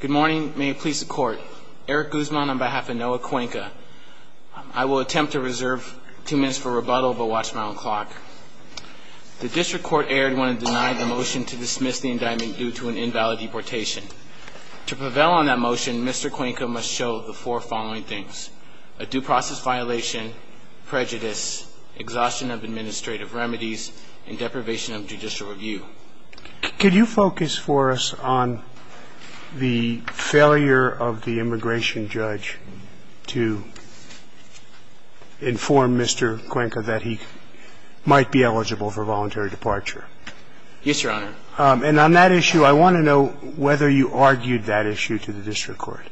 Good morning. May it please the court. Eric Guzman on behalf of Noe Cuenca. I will attempt to reserve two minutes for rebuttal, but watch my own clock. The district court erred when it denied the motion to dismiss the indictment due to an invalid deportation. To prevail on that motion, Mr. Cuenca must show the four following things. A due process violation, prejudice, exhaustion of administrative remedies, and deprivation of judicial review. Could you focus for us on the failure of the immigration judge to inform Mr. Cuenca that he might be eligible for voluntary departure? Yes, Your Honor. And on that issue, I want to know whether you argued that issue to the district court.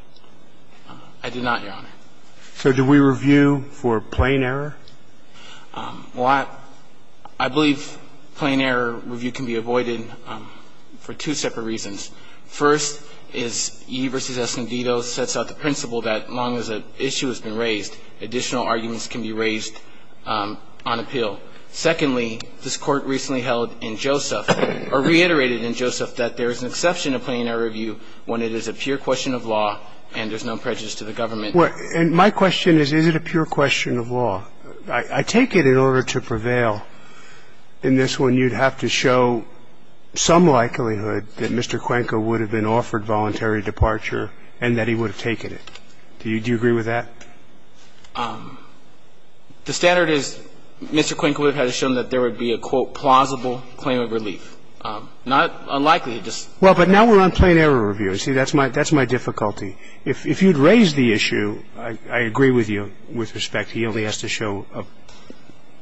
I did not, Your Honor. So do we review for plain error? Well, I believe plain error review can be avoided for two separate reasons. First is Ye v. Escondido sets out the principle that as long as an issue has been raised, additional arguments can be raised on appeal. Secondly, this Court recently held in Joseph, or reiterated in Joseph, that there is an exception to plain error review when it is a pure question of law and there's no prejudice to the government. Well, and my question is, is it a pure question of law? I take it in order to prevail in this one, you'd have to show some likelihood that Mr. Cuenca would have been offered voluntary departure and that he would have taken it. Do you agree with that? The standard is Mr. Cuenca would have had to show that there would be a, quote, plausible claim of relief. Not unlikely, just. Well, but now we're on plain error review. See, that's my difficulty. If you'd raised the issue, I agree with you with respect. He only has to show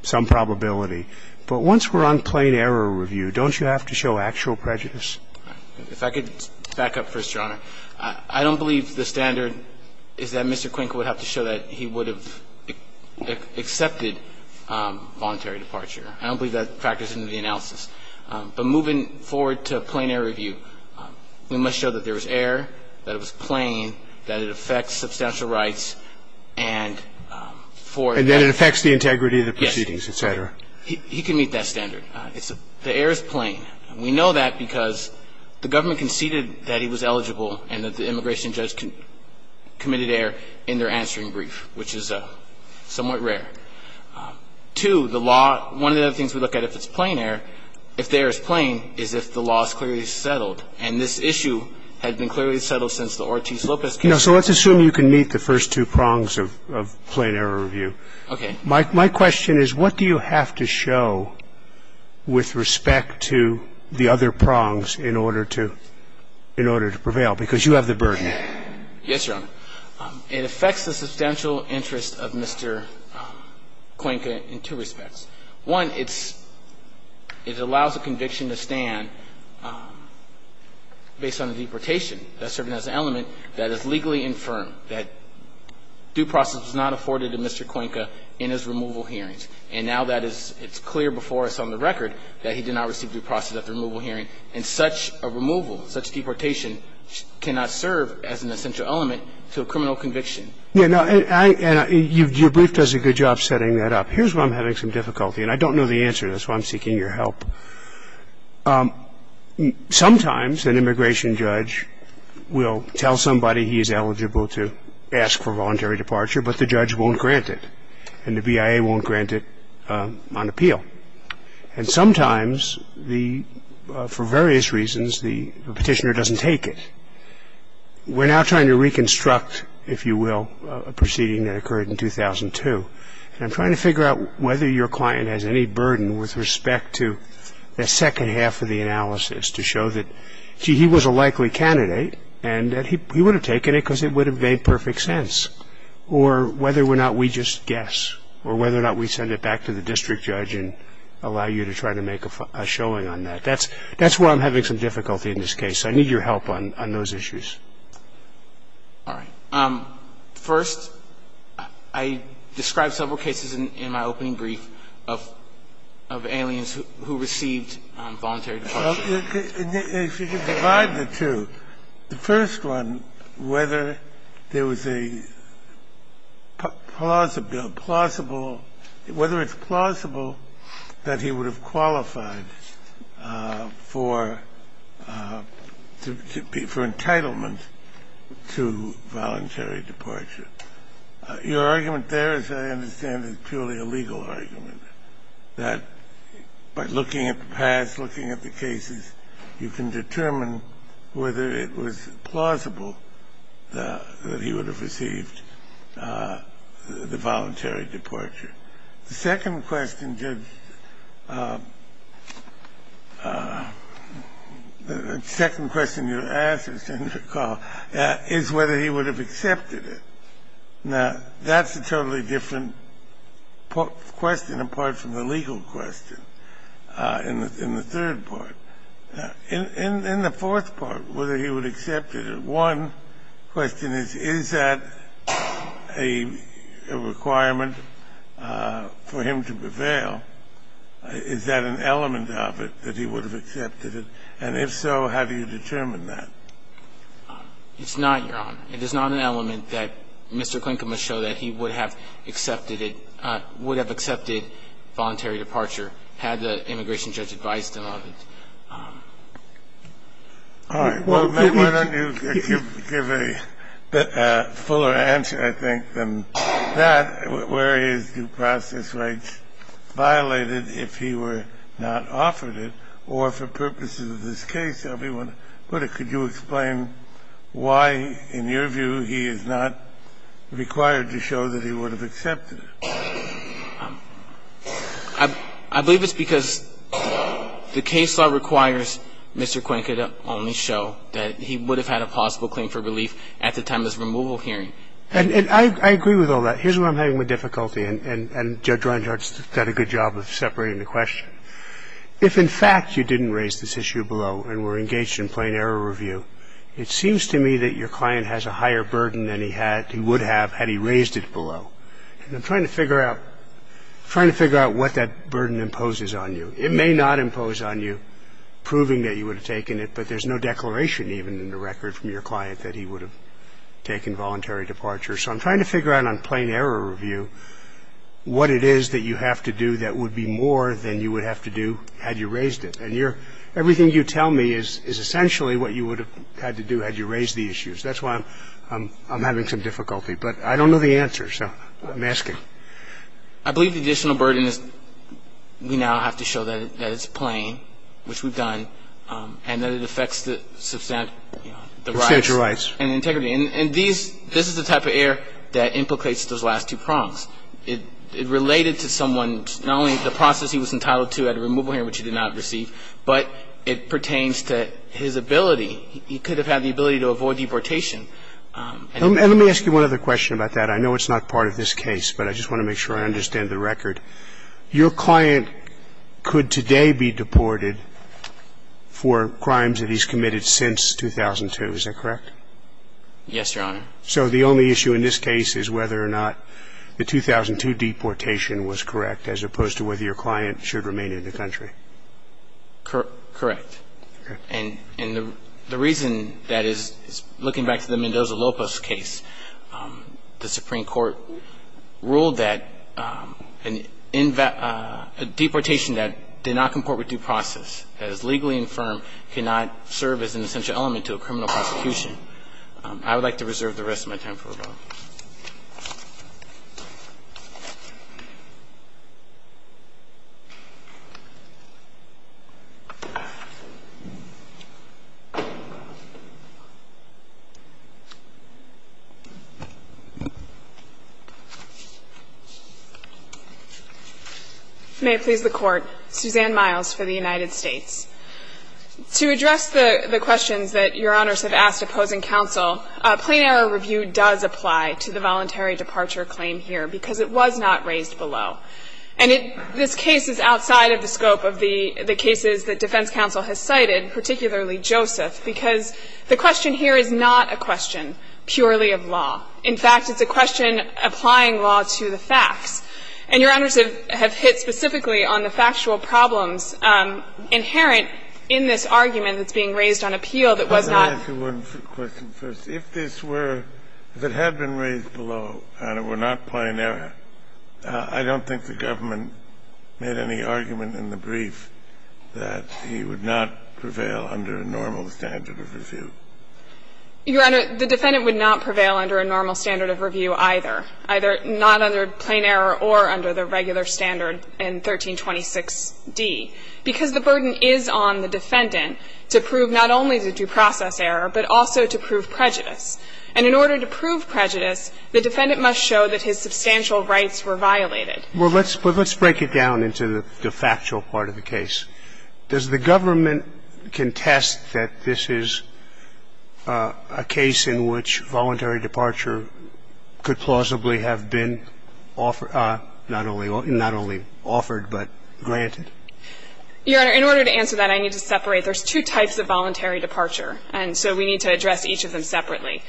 some probability. But once we're on plain error review, don't you have to show actual prejudice? If I could back up first, Your Honor, I don't believe the standard is that Mr. Cuenca would have to show that he would have accepted voluntary departure. I don't believe that factors into the analysis. But moving forward to plain error review, we must show that there was error, that it was plain, that it affects substantial rights, and for that ---- And that it affects the integrity of the proceedings, et cetera. Yes. He can meet that standard. The error is plain. And we know that because the government conceded that he was eligible and that the immigration judge committed error in their answering brief, which is somewhat rare. Two, the law ---- one of the other things we look at if it's plain error, if the error is plain, is if the law is clearly settled. And this issue has been clearly settled since the Ortiz-Lopez case. So let's assume you can meet the first two prongs of plain error review. Okay. My question is, what do you have to show with respect to the other prongs in order to prevail? Because you have the burden. Yes, Your Honor. It affects the substantial interest of Mr. Cuenca in two respects. One, it's ---- it allows a conviction to stand based on the deportation. That's serving as an element that is legally infirm, that due process was not afforded to Mr. Cuenca in his removal hearings. And now that is ---- it's clear before us on the record that he did not receive due process at the removal hearing, and such a removal, such deportation cannot serve as an essential element to a criminal conviction. Yeah. Now, I ---- and your brief does a good job setting that up. Here's where I'm having some difficulty, and I don't know the answer. That's why I'm seeking your help. Sometimes an immigration judge will tell somebody he is eligible to ask for voluntary departure, but the judge won't grant it, and the BIA won't grant it on appeal. And sometimes the ---- for various reasons, the petitioner doesn't take it. We're now trying to reconstruct, if you will, a proceeding that occurred in 2002. And I'm trying to figure out whether your client has any burden with respect to the second half of the analysis to show that, gee, he was a likely candidate and that he would have taken it because it would have made perfect sense, or whether or not we just guess, or whether or not we send it back to the district judge and allow you to try to make a showing on that. That's where I'm having some difficulty in this case. So I need your help on those issues. All right. First, I described several cases in my opening brief of aliens who received voluntary departure. If you could divide the two. The first one, whether there was a plausible ---- whether it's plausible that he would have qualified for entitlement to voluntary departure. Your argument there, as I understand it, is purely a legal argument, that by looking at the past, looking at the cases, you can determine whether it was plausible that he would have received the voluntary departure. The second question, Judge ---- the second question you asked, if I recall, is whether he would have accepted it. Now, that's a totally different question apart from the legal question in the third part. In the fourth part, whether he would have accepted it, one question is, is that a requirement for him to prevail? Is that an element of it, that he would have accepted it? And if so, how do you determine that? It's not, Your Honor. It is not an element that Mr. Klinkin would show that he would have accepted it ---- would have accepted voluntary departure had the immigration judge advised him of it. All right. Well, then why don't you give a fuller answer, I think, than that, where his due process rights violated if he were not offered it, or for purposes of this case. Could you explain why, in your view, he is not required to show that he would have accepted it? I believe it's because the case law requires Mr. Klinkin to only show that he would have had a possible claim for relief at the time of this removal hearing. And I agree with all that. Here's where I'm having difficulty, and Judge Reinhardt's done a good job of separating the question. If, in fact, you didn't raise this issue below and were engaged in plain error review, it seems to me that your client has a higher burden than he had he would have had he raised it below. And I'm trying to figure out what that burden imposes on you. It may not impose on you proving that you would have taken it, but there's no declaration even in the record from your client that he would have taken voluntary departure. So I'm trying to figure out on plain error review what it is that you have to do that would be more than you would have to do had you raised it. And everything you tell me is essentially what you would have had to do had you raised the issues. That's why I'm having some difficulty. But I don't know the answer, so I'm asking. I believe the additional burden is we now have to show that it's plain, which we've done, and that it affects the substantive rights and integrity. And these – this is the type of error that implicates those last two prongs. It related to someone, not only the process he was entitled to at a removal hearing, which he did not receive, but it pertains to his ability. He could have had the ability to avoid deportation. I'm saying that he should have had the ability to avoid deportation. And let me ask you one other question about that. I know it's not part of this case, but I just want to make sure I understand the record. Your client could today be deported for crimes that he's committed since 2002. Is that correct? Yes, Your Honor. So the only issue in this case is whether or not the 2002 deportation was correct, as opposed to whether your client should remain in the country. Correct. And the reason that is, looking back to the Mendoza-Lopez case, the Supreme Court ruled that a deportation that did not comport with due process, that is legally infirm, cannot serve as an essential element to a criminal prosecution. I would like to reserve the rest of my time for rebuttal. May it please the Court. Suzanne Miles for the United States. To address the questions that Your Honors have asked opposing counsel, plain error review does apply to the voluntary departure claim here because it was not raised below. And this case is outside of the scope of the cases that defense counsel has cited, particularly Joseph, because the question here is not a question purely of law. In fact, it's a question applying law to the facts. And Your Honors have hit specifically on the factual problems inherent in this argument that's being raised on appeal that was not. Let me ask you one question first. If this were, if it had been raised below and it were not plain error, I don't think the government made any argument in the brief that he would not prevail under a normal standard of review. Your Honor, the defendant would not prevail under a normal standard of review either, either not under plain error or under the regular standard in 1326d, because the burden is on the defendant to prove not only the due process error, but also to prove prejudice. And in order to prove prejudice, the defendant must show that his substantial rights were violated. Well, let's break it down into the factual part of the case. Does the government contest that this is a case in which voluntary departure could plausibly have been offered, not only offered, but granted? Your Honor, in order to answer that, I need to separate. There's two types of voluntary departure. And so we need to address each of them separately.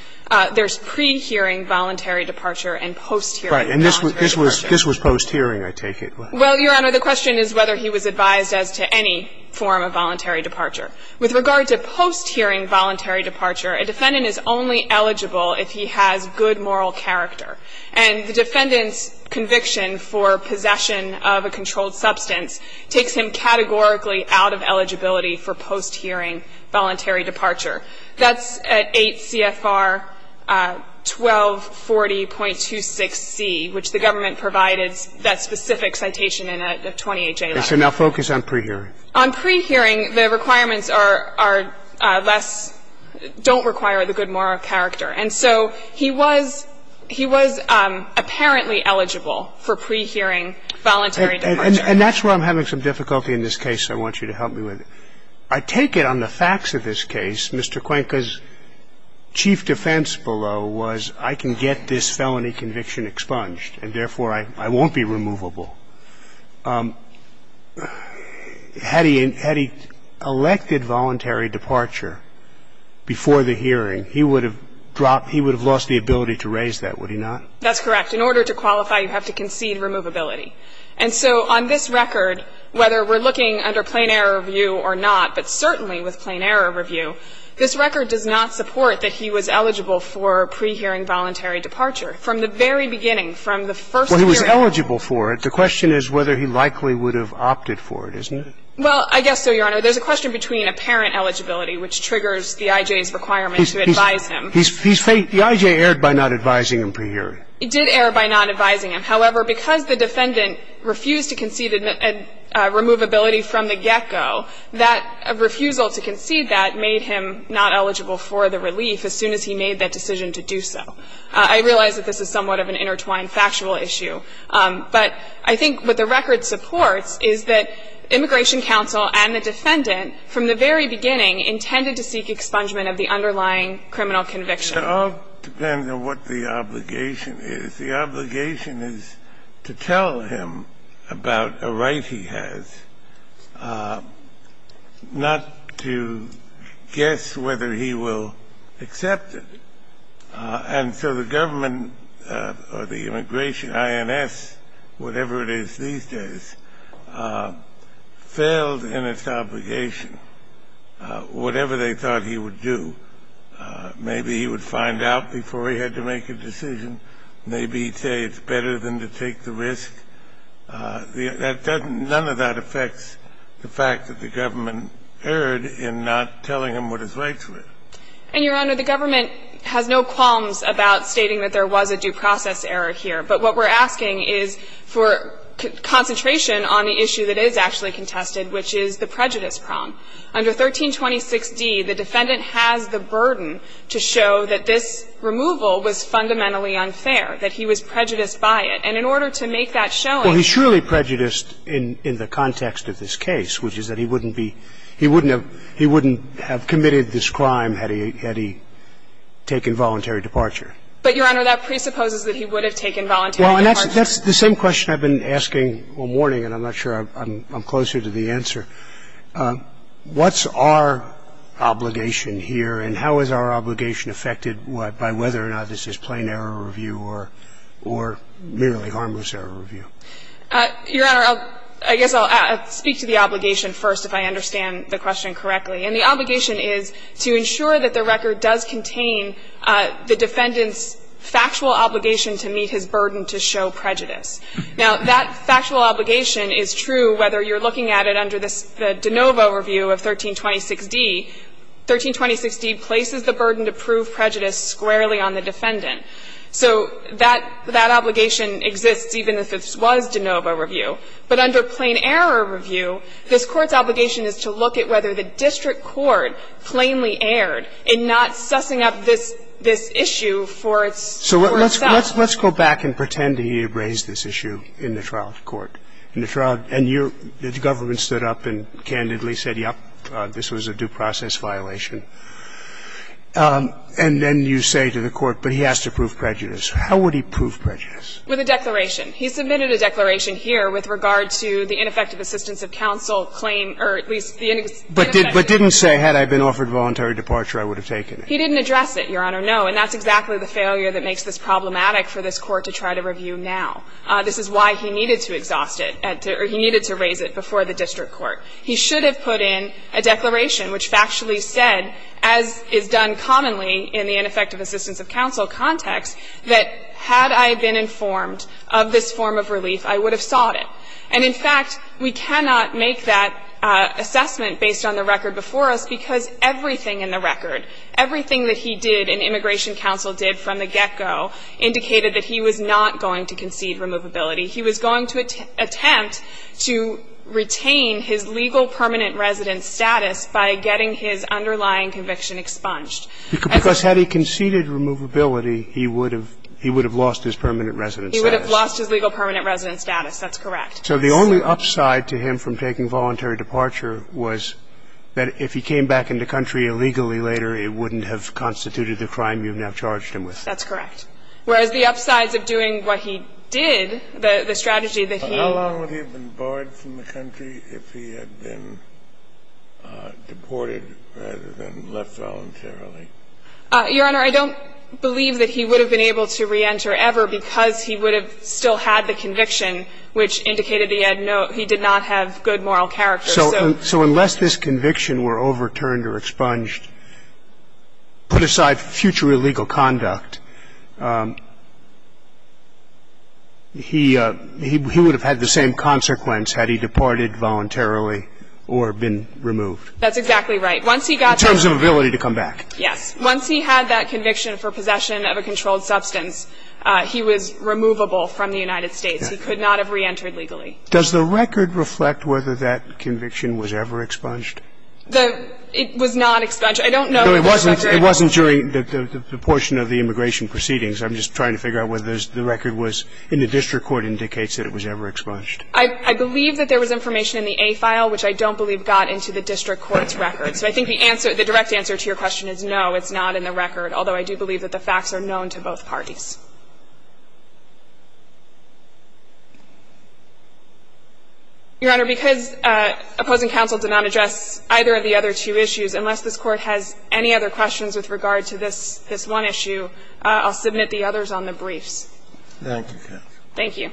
There's pre-hearing voluntary departure and post-hearing voluntary departure. Right. And this was post-hearing, I take it. Well, Your Honor, the question is whether he was advised as to any form of voluntary departure. With regard to post-hearing voluntary departure, a defendant is only eligible if he has good moral character. And the defendant's conviction for possession of a controlled substance takes him categorically out of eligibility for post-hearing voluntary departure. That's at 8 CFR 1240.26c, which the government provided that specific citation in a 20HA letter. And so now focus on pre-hearing. On pre-hearing, the requirements are less don't require the good moral character. And so he was he was apparently eligible for pre-hearing voluntary departure. And that's where I'm having some difficulty in this case. I want you to help me with it. I take it on the facts of this case, Mr. Cuenca's chief defense below was I can get this felony conviction expunged and, therefore, I won't be removable. Had he elected voluntary departure before the hearing, he would have dropped the ability to raise that, would he not? That's correct. In order to qualify, you have to concede removability. And so on this record, whether we're looking under plain error review or not, but certainly with plain error review, this record does not support that he was eligible for pre-hearing voluntary departure. From the very beginning, from the first hearing. Well, he was eligible for it. The question is whether he likely would have opted for it, isn't it? Well, I guess so, Your Honor. There's a question between apparent eligibility, which triggers the IJ's requirement to advise him. The IJ erred by not advising him pre-hearing. It did err by not advising him. However, because the defendant refused to concede removability from the get-go, that refusal to concede that made him not eligible for the relief as soon as he made that decision to do so. I realize that this is somewhat of an intertwined factual issue. But I think what the record supports is that immigration counsel and the defendant intended to seek expungement of the underlying criminal conviction. It all depends on what the obligation is. The obligation is to tell him about a right he has, not to guess whether he will accept it. And so the government or the immigration, INS, whatever it is these days, failed to tell him what his rights were. And so the government, as a result of not telling him what his rights were, was in its obligation, whatever they thought he would do. Maybe he would find out before he had to make a decision. Maybe he'd say it's better than to take the risk. None of that affects the fact that the government erred in not telling him what his rights were. And, Your Honor, the government has no qualms about stating that there was a due process error here. But what we're asking is for concentration on the issue that is actually contested, which is the prejudice prong. Under 1326d, the defendant has the burden to show that this removal was fundamentally unfair, that he was prejudiced by it. And in order to make that showing. Well, he's surely prejudiced in the context of this case, which is that he wouldn't be, he wouldn't have committed this crime had he taken voluntary departure. But, Your Honor, that presupposes that he would have taken voluntary departure. Well, and that's the same question I've been asking all morning, and I'm not sure I'm closer to the answer. What's our obligation here, and how is our obligation affected by whether or not this is plain error review or merely harmless error review? Your Honor, I guess I'll speak to the obligation first, if I understand the question correctly. And the obligation is to ensure that the record does contain the defendant's factual obligation to meet his burden to show prejudice. Now, that factual obligation is true whether you're looking at it under the de novo review of 1326d. 1326d places the burden to prove prejudice squarely on the defendant. So that obligation exists even if it was de novo review. But under plain error review, this Court's obligation is to look at whether the district court plainly erred in not sussing up this issue for itself. So let's go back and pretend he raised this issue in the trial court. In the trial, and the government stood up and candidly said, yes, this was a due process violation. And then you say to the Court, but he has to prove prejudice. How would he prove prejudice? With a declaration. He submitted a declaration here with regard to the ineffective assistance of counsel claim, or at least the ineffective assistance of counsel. But didn't say, had I been offered voluntary departure, I would have taken it. He didn't address it, Your Honor, no. And that's exactly the failure that makes this problematic for this Court to try to review now. This is why he needed to exhaust it, or he needed to raise it before the district court. He should have put in a declaration which factually said, as is done commonly in the ineffective assistance of counsel context, that had I been informed of this form of relief, I would have sought it. And, in fact, we cannot make that assessment based on the record before us, because everything in the record, everything that he did and immigration counsel did from the get-go indicated that he was not going to concede removability. He was going to attempt to retain his legal permanent residence status by getting his underlying conviction expunged. Because had he conceded removability, he would have lost his permanent residence status. He would have lost his legal permanent residence status. That's correct. So the only upside to him from taking voluntary departure was that if he came back into country illegally later, it wouldn't have constituted the crime you have now charged him with. That's correct. Whereas the upsides of doing what he did, the strategy that he used to get his legal permanent residence status, was that he would have been able to re-enter the country if he had been deported rather than left voluntarily. Your Honor, I don't believe that he would have been able to re-enter ever because he would have still had the conviction which indicated he had no – he did not have good moral character, so. So unless this conviction were overturned or expunged, put aside future illegal conduct, he – he would have had the same consequence had he departed voluntarily or been removed. That's exactly right. Once he got the – In terms of ability to come back. Yes. Once he had that conviction for possession of a controlled substance, he was removable from the United States. He could not have re-entered legally. Does the record reflect whether that conviction was ever expunged? The – it was not expunged. I don't know if the record – It wasn't during the portion of the immigration proceedings. I'm just trying to figure out whether the record was in the district court indicates that it was ever expunged. I believe that there was information in the A file which I don't believe got into the district court's record. So I think the answer – the direct answer to your question is no, it's not in the record, although I do believe that the facts are known to both parties. Your Honor, because opposing counsel did not address either of the other two issues, unless this Court has any other questions with regard to this one issue, I'll submit the others on the briefs. Thank you. Thank you.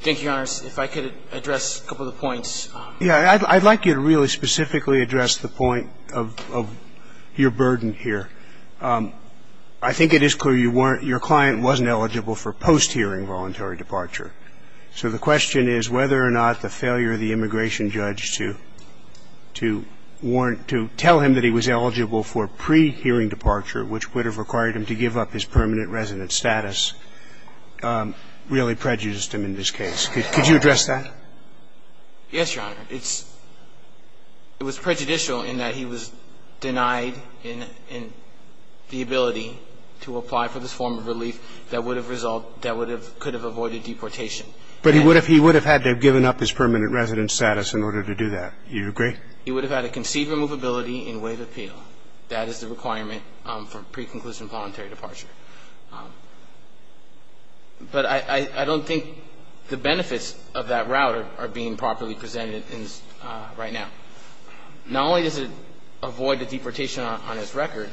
Thank you, Your Honors. If I could address a couple of the points. Yeah. I'd like you to really specifically address the point of your burden here. I think it is clear you weren't – your client wasn't eligible for post-hearing voluntary departure. So the question is whether or not the failure of the immigration judge to warrant – to tell him that he was eligible for pre-hearing departure, which would have required him to give up his permanent resident status, really prejudiced him in this case. Could you address that? Yes, Your Honor. It's – it was prejudicial in that he was denied in the ability to apply for this form of relief that would have resulted – that would have – could have avoided deportation. But he would have – he would have had to have given up his permanent resident status in order to do that. Do you agree? He would have had a conceded removability in waive appeal. That is the requirement for pre-conclusion voluntary departure. But I don't think the benefits of that route are being properly presented right now. Not only does it avoid the deportation on his record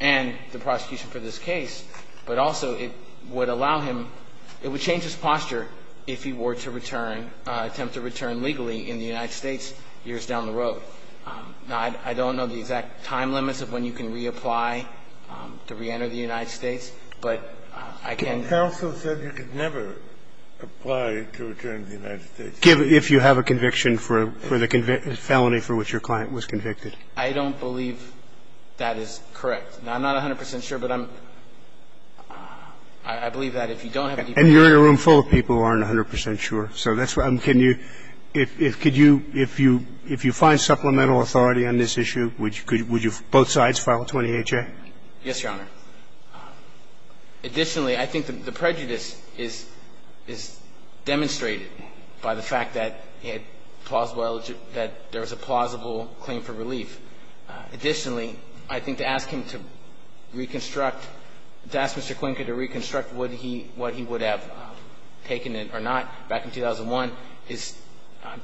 and the prosecution for this case, but also it would allow him – it would change his posture if he were to return – attempt to return legally in the United States years down the road. So, no, I don't know the exact time limits of when you can reapply to reenter the United States, but I can – Counsel said you could never apply to return to the United States. Give – if you have a conviction for the felony for which your client was convicted. I don't believe that is correct. Now, I'm not 100 percent sure, but I'm – I believe that if you don't have a deportation – And you're in a room full of people who aren't 100 percent sure. So that's why I'm – can you – if you find supplemental authority on this issue, would you – would both sides file a 20HA? Yes, Your Honor. Additionally, I think the prejudice is demonstrated by the fact that he had plausible – that there was a plausible claim for relief. Additionally, I think to ask him to reconstruct – to ask Mr. Quinker to reconstruct what he would have taken it or not back in 2001 is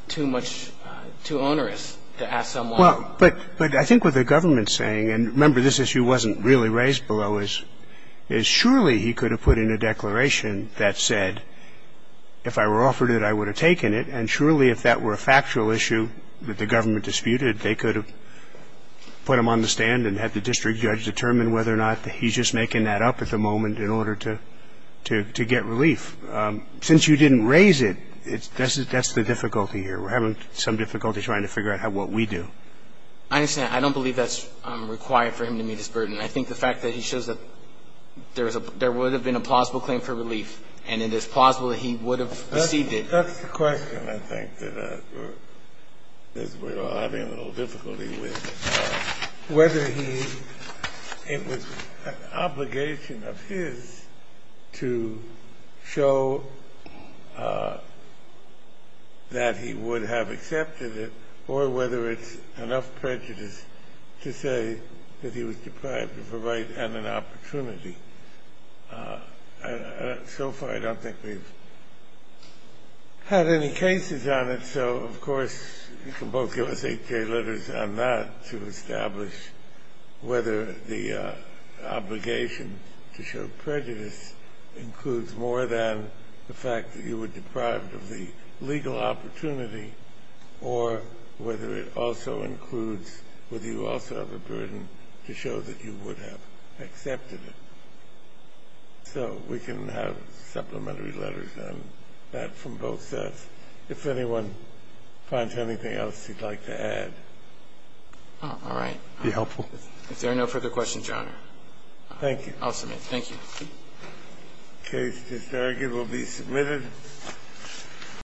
too much – too onerous to ask someone – Well, but I think what the government's saying – and, remember, this issue wasn't really raised below – is surely he could have put in a declaration that said, if I were offered it, I would have taken it. And surely if that were a factual issue that the government disputed, they could have put him on the stand and had the district judge determine whether or not he's just making that up at the moment in order to get relief. Since you didn't raise it, that's the difficulty here. We're having some difficulty trying to figure out what we do. I understand. I don't believe that's required for him to meet his burden. I think the fact that he shows that there would have been a plausible claim for relief and it is plausible that he would have received it. That's the question, I think, that we're having a little difficulty with, whether it was an obligation of his to show that he would have accepted it or whether it's enough prejudice to say that he was deprived of a right and an opportunity. So far, I don't think we've had any cases on it. So, of course, you can both give us eight-day letters on that to establish whether the obligation to show prejudice includes more than the fact that you were deprived of the legal opportunity or whether it also includes whether you also have a burden to show that you would have accepted it. So we can have supplementary letters on that from both sides. If anyone finds anything else you'd like to add. All right. Be helpful. If there are no further questions, Your Honor. Thank you. I'll submit. The case is very good. It will be submitted.